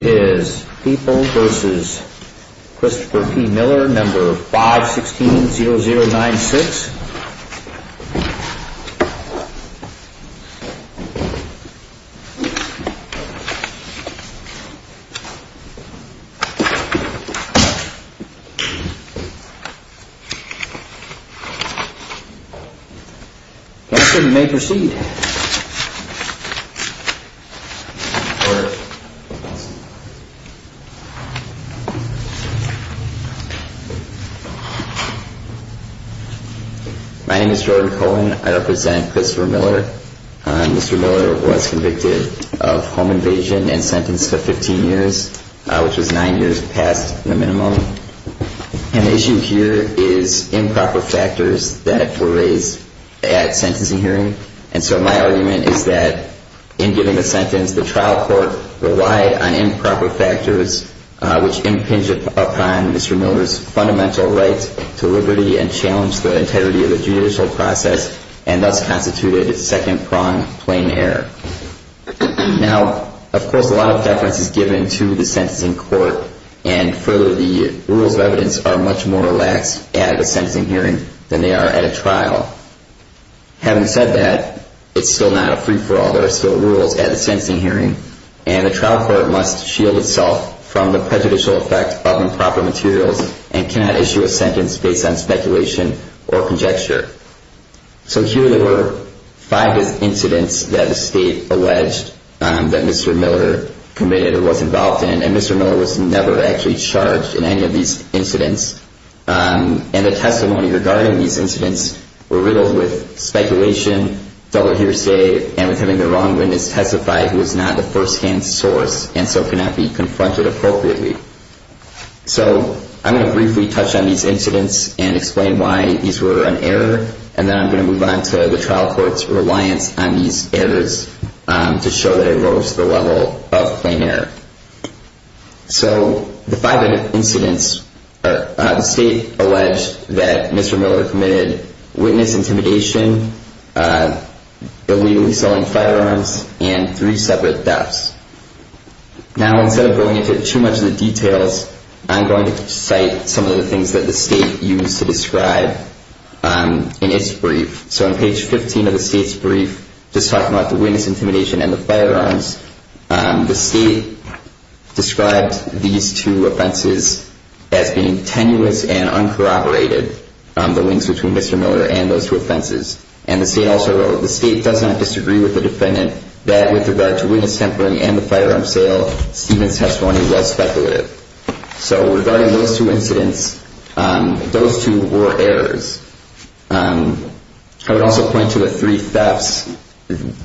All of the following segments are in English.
is People v. Christopher P. Miller, No. 516-0096. Mr. Miller, you may proceed. My name is Jordan Cohen. I represent Christopher Miller. Mr. Miller was convicted of home invasion and sentenced to 15 years, which was nine years past the minimum. And the issue here is improper factors that were raised at sentencing hearing. And so my argument is that, in giving the sentence, the trial court relied on improper factors, which impinged upon Mr. Miller's fundamental right to liberty and challenged the integrity of the judicial process, and thus constituted its second prong, plain error. Now, of course, a lot of deference is given to the sentencing court, and further, the rules of evidence are much more relaxed at a sentencing hearing than they are at a trial. Having said that, it's still not a free-for-all. There are still rules at a sentencing hearing, and the trial court must shield itself from the prejudicial effect of improper materials and cannot issue a sentence based on speculation or conjecture. So here there were five incidents that the state alleged that Mr. Miller committed or was involved in, and Mr. Miller was never actually charged in any of these incidents. And the testimony regarding these incidents were riddled with speculation, double hearsay, and with having the wrong witness testify who was not the first-hand source, and so cannot be confronted appropriately. So I'm going to briefly touch on these incidents and explain why these were an error, and then I'm going to move on to the trial court's reliance on these errors to show that it rose to the level of plain error. So the five incidents, the state alleged that Mr. Miller committed witness intimidation, illegally selling firearms, and three separate thefts. Now, instead of going into too much of the details, I'm going to cite some of the things that the state used to describe in its brief. So on page 15 of the state's brief, just talking about the witness intimidation and the firearms, the state described these two offenses as being tenuous and uncorroborated, the links between Mr. Miller and those two offenses. And the state also wrote, the state does not disagree with the defendant that with regard to witness tampering and the firearms sale, Stephen's testimony was speculative. So regarding those two incidents, those two were errors. I would also point to the three thefts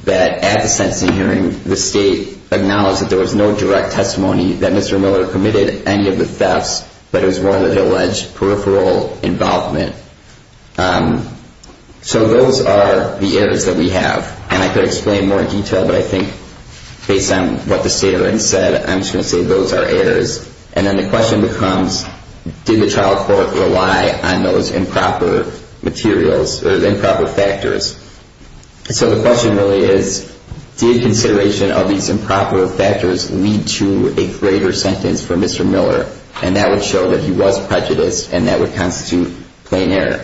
that at the sentencing hearing, the state acknowledged that there was no direct testimony that Mr. Miller committed any of the thefts, but it was one of the alleged peripheral involvement. So those are the errors that we have. And I could explain more in detail, but I think based on what the state already said, I'm just going to say those are errors. And then the question becomes, did the trial court rely on those improper materials, those improper factors? So the question really is, did consideration of these improper factors lead to a greater sentence for Mr. Miller? And that would show that he was prejudiced, and that would constitute plain error.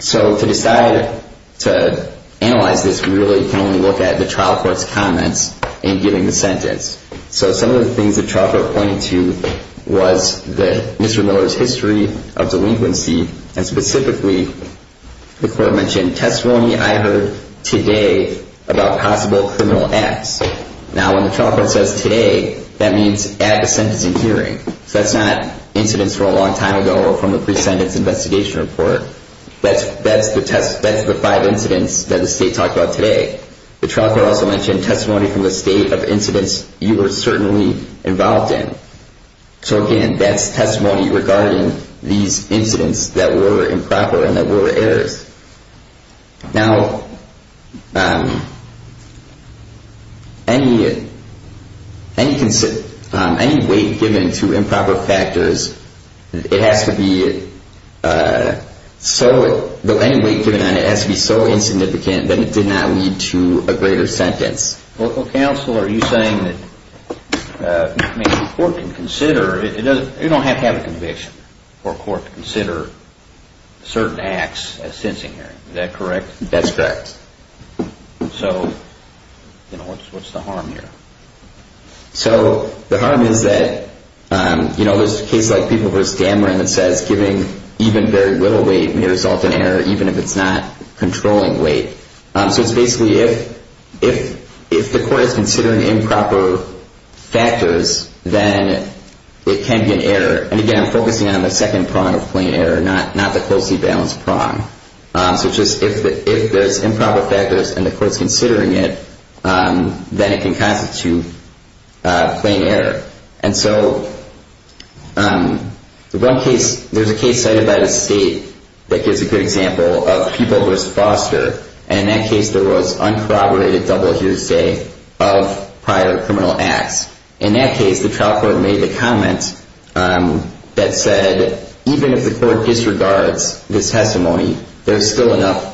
So to decide to analyze this, we really can only look at the trial court's comments in giving the sentence. So some of the things the trial court pointed to was that Mr. Miller's history of delinquency, and specifically, the court mentioned testimony I heard today about possible criminal acts. Now, when the trial court says today, that means at the sentencing hearing. So that's not incidents from a long time ago or from the pre-sentence investigation report. That's the five incidents that the state talked about today. The trial court also mentioned testimony from the state of incidents you were certainly involved in. So again, that's testimony regarding these incidents that were improper and that were errors. Now, any weight given to improper factors, it has to be so insignificant that it did not lead to a greater sentence. Local counsel, are you saying that the court can consider, you don't have to have a conviction for a court to consider certain acts at a sentencing hearing. Is that correct? That's correct. So what's the harm here? So the harm is that, you know, there's a case like people versus Dameron that says giving even very little weight may result in error, even if it's not controlling weight. So it's basically if the court is considering improper factors, then it can be an error. And again, I'm focusing on the second prong of plain error, not the closely balanced prong. So just if there's improper factors and the court's considering it, then it can constitute plain error. And so the one case, there's a case cited by the state that gives a good example of people versus Foster. And in that case, there was uncorroborated double hearsay of prior criminal acts. In that case, the trial court made the comment that said even if the court disregards this testimony, there's still enough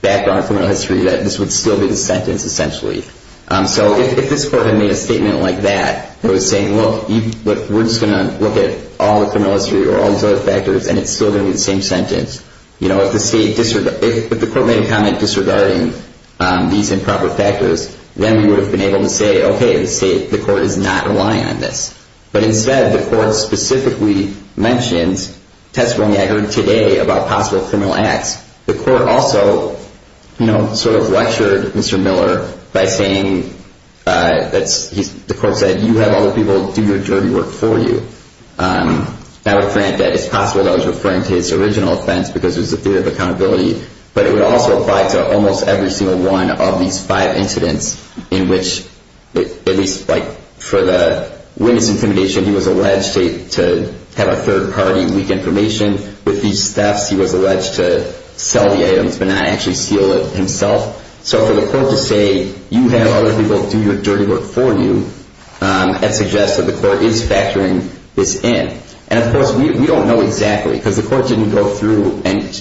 background in criminal history that this would still be the sentence essentially. So if this court had made a statement like that that was saying, look, we're just going to look at all the criminal history or all these other factors, and it's still going to be the same sentence, you know, if the court made a comment disregarding these improper factors, then we would have been able to say, okay, the state, the court is not relying on this. But instead, the court specifically mentions testimony I heard today about possible criminal acts. The court also, you know, sort of lectured Mr. Miller by saying that the court said you have other people do your dirty work for you. Now, granted, it's possible that was referring to his original offense because there's a fear of accountability, but it would also apply to almost every single one of these five incidents in which at least like for the witness intimidation, he was alleged to have a third party leak information with these thefts. He was alleged to sell the items but not actually steal it himself. So for the court to say you have other people do your dirty work for you, that suggests that the court is factoring this in. And, of course, we don't know exactly because the court didn't go through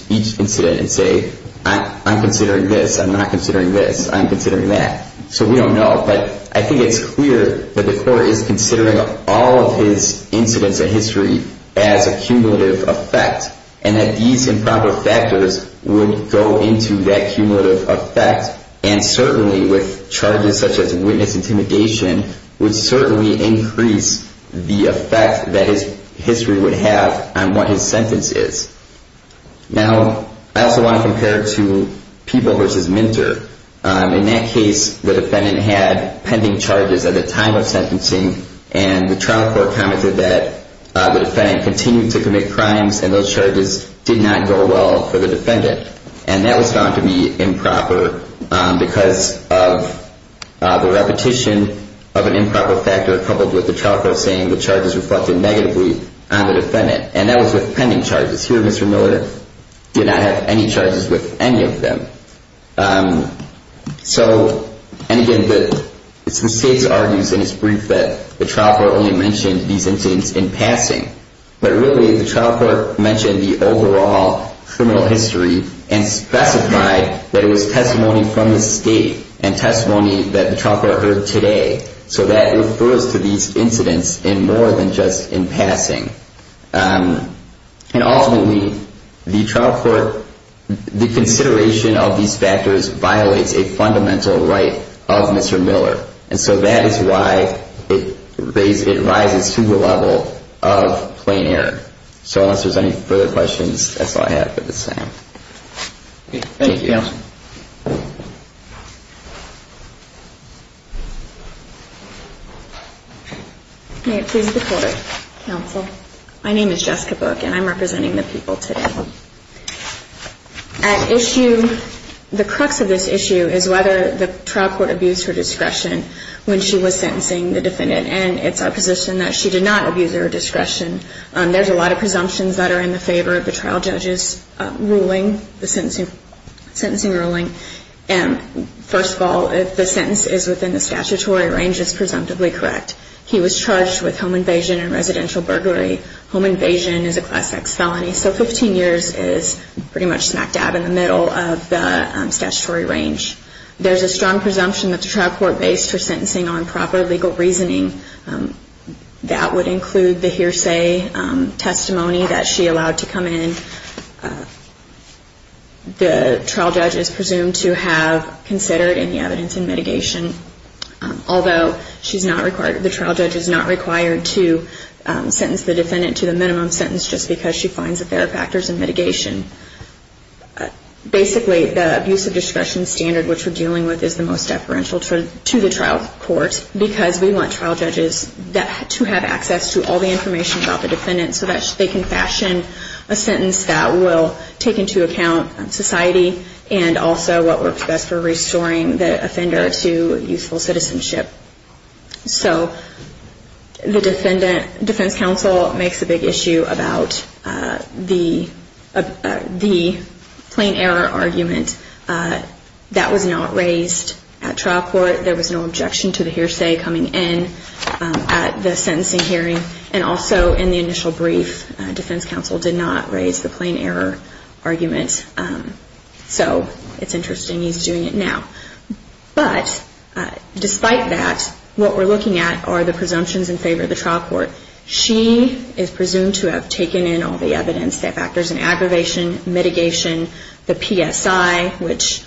each incident and say, I'm considering this. I'm not considering this. I'm considering that. So we don't know. But I think it's clear that the court is considering all of his incidents in history as a cumulative effect and that these improper factors would go into that cumulative effect and certainly with charges such as witness intimidation would certainly increase the effect that his history would have on what his sentence is. Now, I also want to compare it to people versus mentor. In that case, the defendant had pending charges at the time of sentencing and the trial court commented that the defendant continued to commit crimes and those charges did not go well for the defendant. And that was found to be improper because of the repetition of an improper factor coupled with the trial court saying the charges reflected negatively on the defendant. And that was with pending charges. Here, Mr. Miller did not have any charges with any of them. So, and again, the state argues in its brief that the trial court only mentioned these incidents in passing. But really, the trial court mentioned the overall criminal history and specified that it was testimony from the state and testimony that the trial court heard today. So that refers to these incidents in more than just in passing. And ultimately, the trial court, the consideration of these factors violates a fundamental right of Mr. Miller. And so that is why it rises to the level of plain error. So unless there's any further questions, that's all I have for this time. Thank you. Anybody else? May it please the court. Counsel. My name is Jessica Book and I'm representing the people today. At issue, the crux of this issue is whether the trial court abused her discretion when she was sentencing the defendant. And it's our position that she did not abuse her discretion. There's a lot of presumptions that are in the favor of the trial judge's ruling, the sentencing ruling. First of all, if the sentence is within the statutory range, it's presumptively correct. He was charged with home invasion and residential burglary. Home invasion is a Class X felony. So 15 years is pretty much smack dab in the middle of the statutory range. There's a strong presumption that the trial court based her sentencing on proper legal reasoning. That would include the hearsay testimony that she allowed to come in. The trial judge is presumed to have considered any evidence in mitigation, although the trial judge is not required to sentence the defendant to the minimum sentence just because she finds that there are factors in mitigation. Basically, the abuse of discretion standard which we're dealing with is the most deferential to the trial court because we want trial judges to have access to all the information about the defendant so that they can fashion a sentence that will take into account society and also what works best for restoring the offender to youthful citizenship. So the defense counsel makes a big issue about the plain error argument that was not raised at trial court. There was no objection to the hearsay coming in at the sentencing hearing. And also in the initial brief, defense counsel did not raise the plain error argument. So it's interesting he's doing it now. But despite that, what we're looking at are the presumptions in favor of the trial court. She is presumed to have taken in all the evidence that factors in aggravation, mitigation, the PSI, which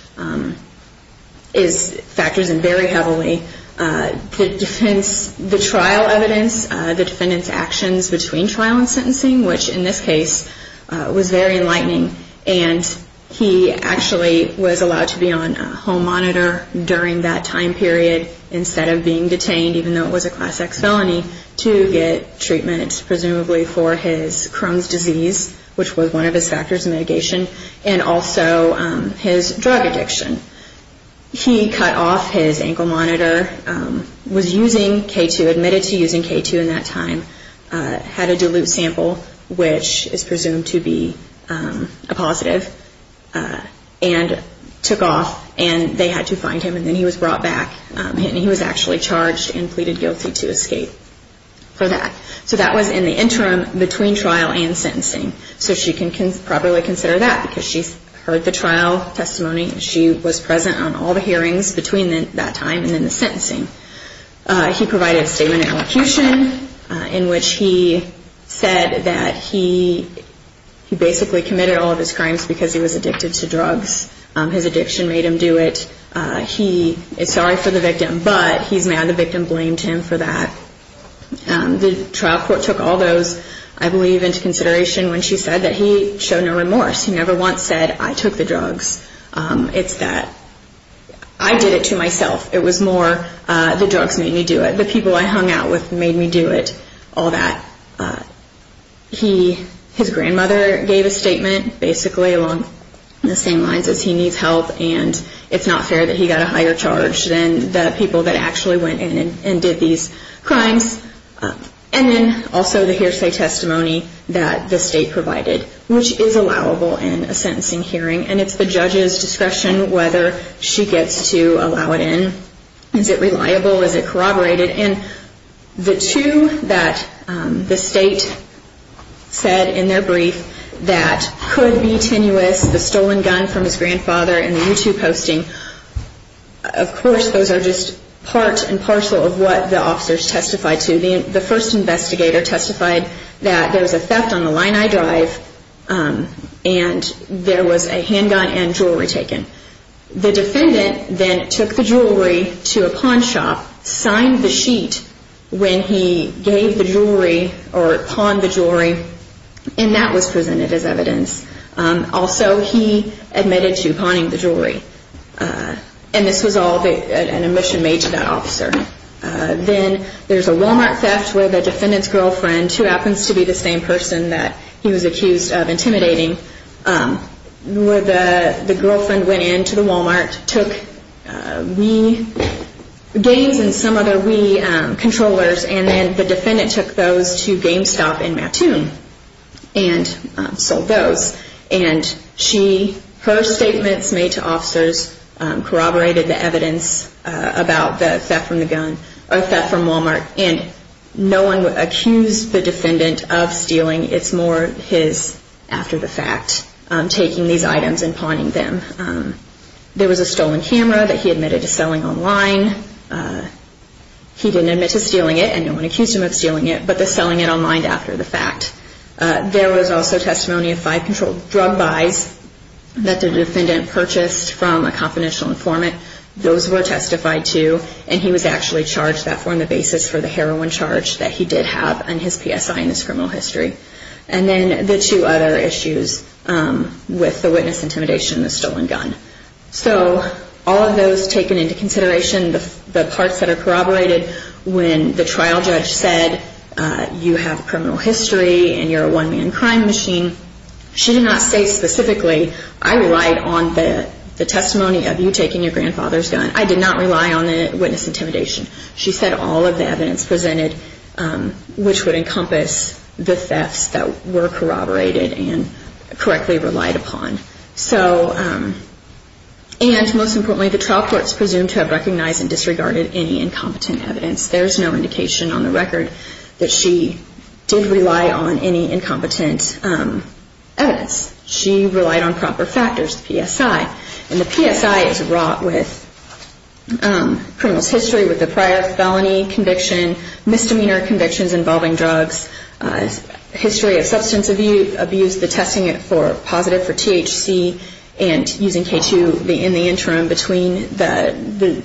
factors in very heavily the trial evidence, the defendant's actions between trial and sentencing, which in this case was very enlightening. And he actually was allowed to be on a home monitor during that time period instead of being detained, even though it was a Class X felony, to get treatment presumably for his Crohn's disease, which was one of his factors in mitigation. And also his drug addiction. He cut off his ankle monitor, was using K2, admitted to using K2 in that time, had a dilute sample, which is presumed to be a positive, and took off. And they had to find him, and then he was brought back. And he was actually charged and pleaded guilty to escape for that. So that was in the interim between trial and sentencing. So she can properly consider that because she heard the trial testimony. She was present on all the hearings between that time and then the sentencing. He provided a statement of elocution in which he said that he basically committed all of his crimes because he was addicted to drugs. His addiction made him do it. He is sorry for the victim, but he's mad the victim blamed him for that. The trial court took all those, I believe, into consideration when she said that he showed no remorse. He never once said, I took the drugs. It's that I did it to myself. It was more the drugs made me do it. The people I hung out with made me do it, all that. His grandmother gave a statement basically along the same lines as he needs help, and it's not fair that he got a higher charge than the people that actually went in and did these crimes, and then also the hearsay testimony that the state provided, which is allowable in a sentencing hearing. And it's the judge's discretion whether she gets to allow it in. Is it reliable? Is it corroborated? And the two that the state said in their brief that could be tenuous, the stolen gun from his grandfather and the YouTube posting, of course those are just part and parcel of what the officers testified to. The first investigator testified that there was a theft on the line I drive, and there was a handgun and jewelry taken. The defendant then took the jewelry to a pawn shop, signed the sheet when he gave the jewelry or pawned the jewelry, and that was presented as evidence. Also he admitted to pawning the jewelry, and this was all an admission made to that officer. Then there's a Walmart theft where the defendant's girlfriend, who happens to be the same person that he was accused of intimidating, where the girlfriend went in to the Walmart, took Wii games and some other Wii controllers, and then the defendant took those to GameStop in Mattoon and sold those. And her statements made to officers corroborated the evidence about the theft from the gun, or theft from Walmart, and no one accused the defendant of stealing. It's more his, after the fact, taking these items and pawning them. There was a stolen camera that he admitted to selling online. He didn't admit to stealing it, and no one accused him of stealing it, but the selling it online after the fact. There was also testimony of five controlled drug buys that the defendant purchased from a confidential informant. Those were testified to, and he was actually charged, that formed the basis for the heroin charge that he did have on his PSI in this criminal history. And then the two other issues with the witness intimidation and the stolen gun. So all of those taken into consideration, the parts that are corroborated, when the trial judge said, you have criminal history and you're a one-man crime machine, she did not say specifically, I relied on the testimony of you taking your grandfather's gun. I did not rely on the witness intimidation. She said all of the evidence presented, which would encompass the thefts that were corroborated and correctly relied upon. And most importantly, the trial court is presumed to have recognized and disregarded any incompetent evidence. There is no indication on the record that she did rely on any incompetent evidence. She relied on proper factors, the PSI. And the PSI is wrought with criminal history with the prior felony conviction, misdemeanor convictions involving drugs, history of substance abuse, the testing for positive for THC and using K2 in the interim between the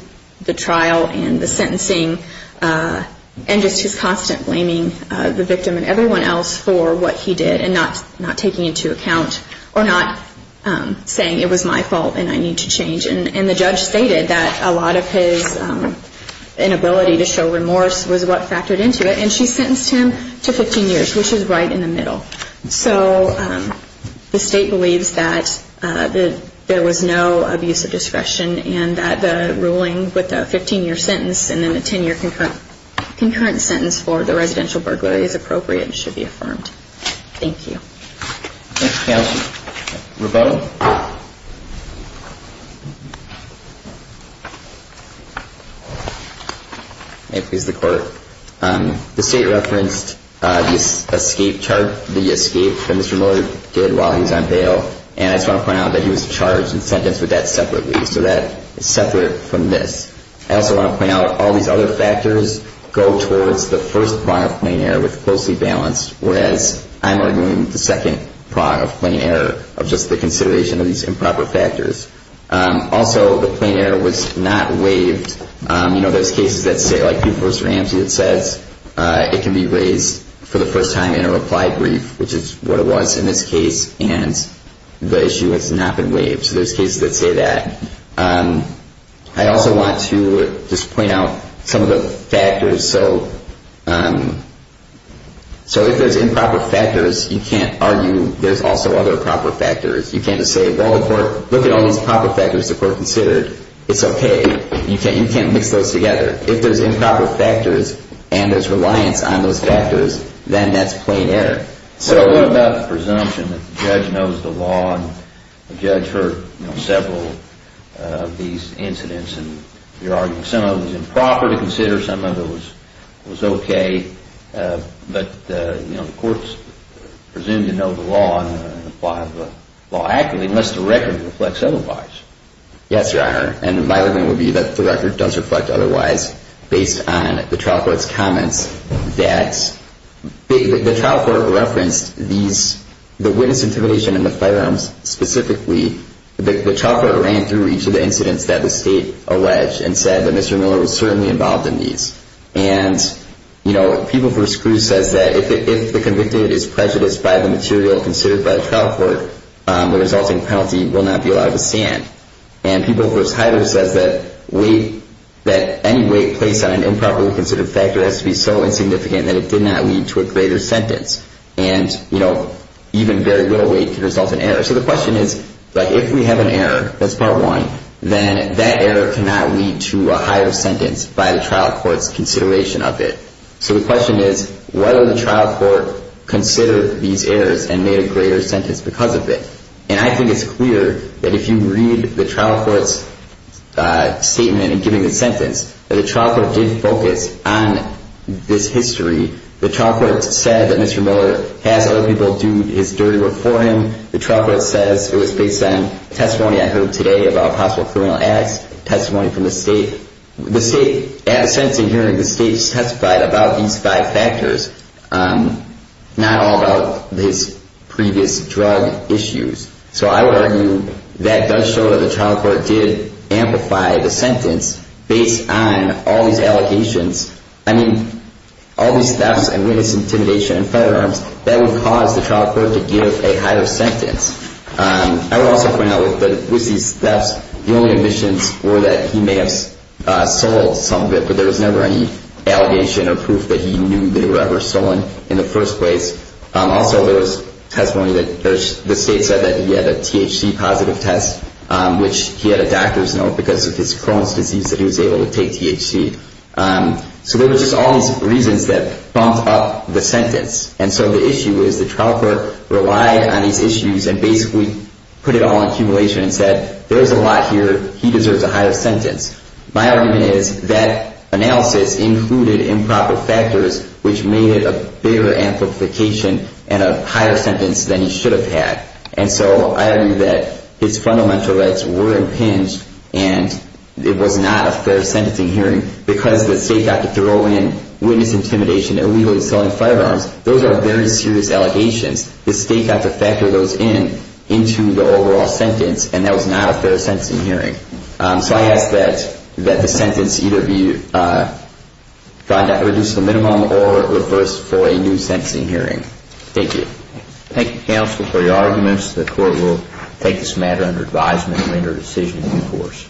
trial and the sentencing, and just his constant blaming the victim and everyone else for what he did and not taking it into account or not saying it was my fault and I need to change. And the judge stated that a lot of his inability to show remorse was what factored into it. And she sentenced him to 15 years, which is right in the middle. So the state believes that there was no abuse of discretion and that the ruling with a 15-year sentence and then a 10-year concurrent sentence for the residential burglary is appropriate and should be affirmed. Thank you. Thank you, counsel. Roberto? May it please the court. The state referenced the escape chart, the escape that Mr. Miller did while he was on bail, and I just want to point out that he was charged and sentenced with that separately. So that is separate from this. I also want to point out all these other factors go towards the first product of plain error with closely balanced, whereas I'm arguing the second product of plain error of just the consideration of these improper factors. Also, the plain error was not waived. You know, there's cases that say, like Pugh v. Ramsey that says it can be raised for the first time in a reply brief, which is what it was in this case, and the issue has not been waived. So there's cases that say that. I also want to just point out some of the factors. So if there's improper factors, you can't argue there's also other proper factors. You can't just say, well, look at all these proper factors that were considered. It's okay. You can't mix those together. If there's improper factors and there's reliance on those factors, then that's plain error. What about the presumption that the judge knows the law and the judge heard several of these incidents, and you're arguing some of it was improper to consider, some of it was okay, but, you know, the courts presume to know the law and apply the law actively unless the record reflects otherwise. Yes, Your Honor, and my argument would be that the record does reflect otherwise, based on the trial court's comments that the trial court referenced the witness intimidation and the firearms specifically. The trial court ran through each of the incidents that the State alleged and said that Mr. Miller was certainly involved in these. And, you know, People v. Cruz says that if the convicted is prejudiced by the material considered by the trial court, the resulting penalty will not be allowed to stand. And People v. Hyler says that any weight placed on an improperly considered factor has to be so insignificant that it did not lead to a greater sentence. And, you know, even very little weight can result in error. So the question is, like, if we have an error, that's part one, then that error cannot lead to a higher sentence by the trial court's consideration of it. So the question is whether the trial court considered these errors and made a greater sentence because of it. And I think it's clear that if you read the trial court's statement in giving the sentence, that the trial court did focus on this history. The trial court said that Mr. Miller has other people do his dirty work for him. The trial court says it was based on testimony I heard today about possible criminal acts, testimony from the state. The state, at a sentencing hearing, the state testified about these five factors, not all about his previous drug issues. So I would argue that does show that the trial court did amplify the sentence based on all these allegations. I mean, all these thefts and witness intimidation and firearms, that would cause the trial court to give a higher sentence. I would also point out that with these thefts, the only omissions were that he may have sold some of it, but there was never any allegation or proof that he knew they were ever stolen in the first place. Also, there was testimony that the state said that he had a THC positive test, which he had a doctor's note because of his Crohn's disease that he was able to take THC. So there was just all these reasons that bumped up the sentence. And so the issue is the trial court relied on these issues and basically put it all in accumulation and said, there's a lot here, he deserves a higher sentence. My argument is that analysis included improper factors, which made it a bigger amplification and a higher sentence than he should have had. And so I agree that his fundamental rights were impinged, and it was not a fair sentencing hearing because the state got to throw in witness intimidation and illegally selling firearms. Those are very serious allegations. The state got to factor those in into the overall sentence, and that was not a fair sentencing hearing. So I ask that the sentence either be reduced to a minimum or reversed for a new sentencing hearing. Thank you. Thank you, counsel, for your arguments. The court will take this matter under advisement and render a decision in due course.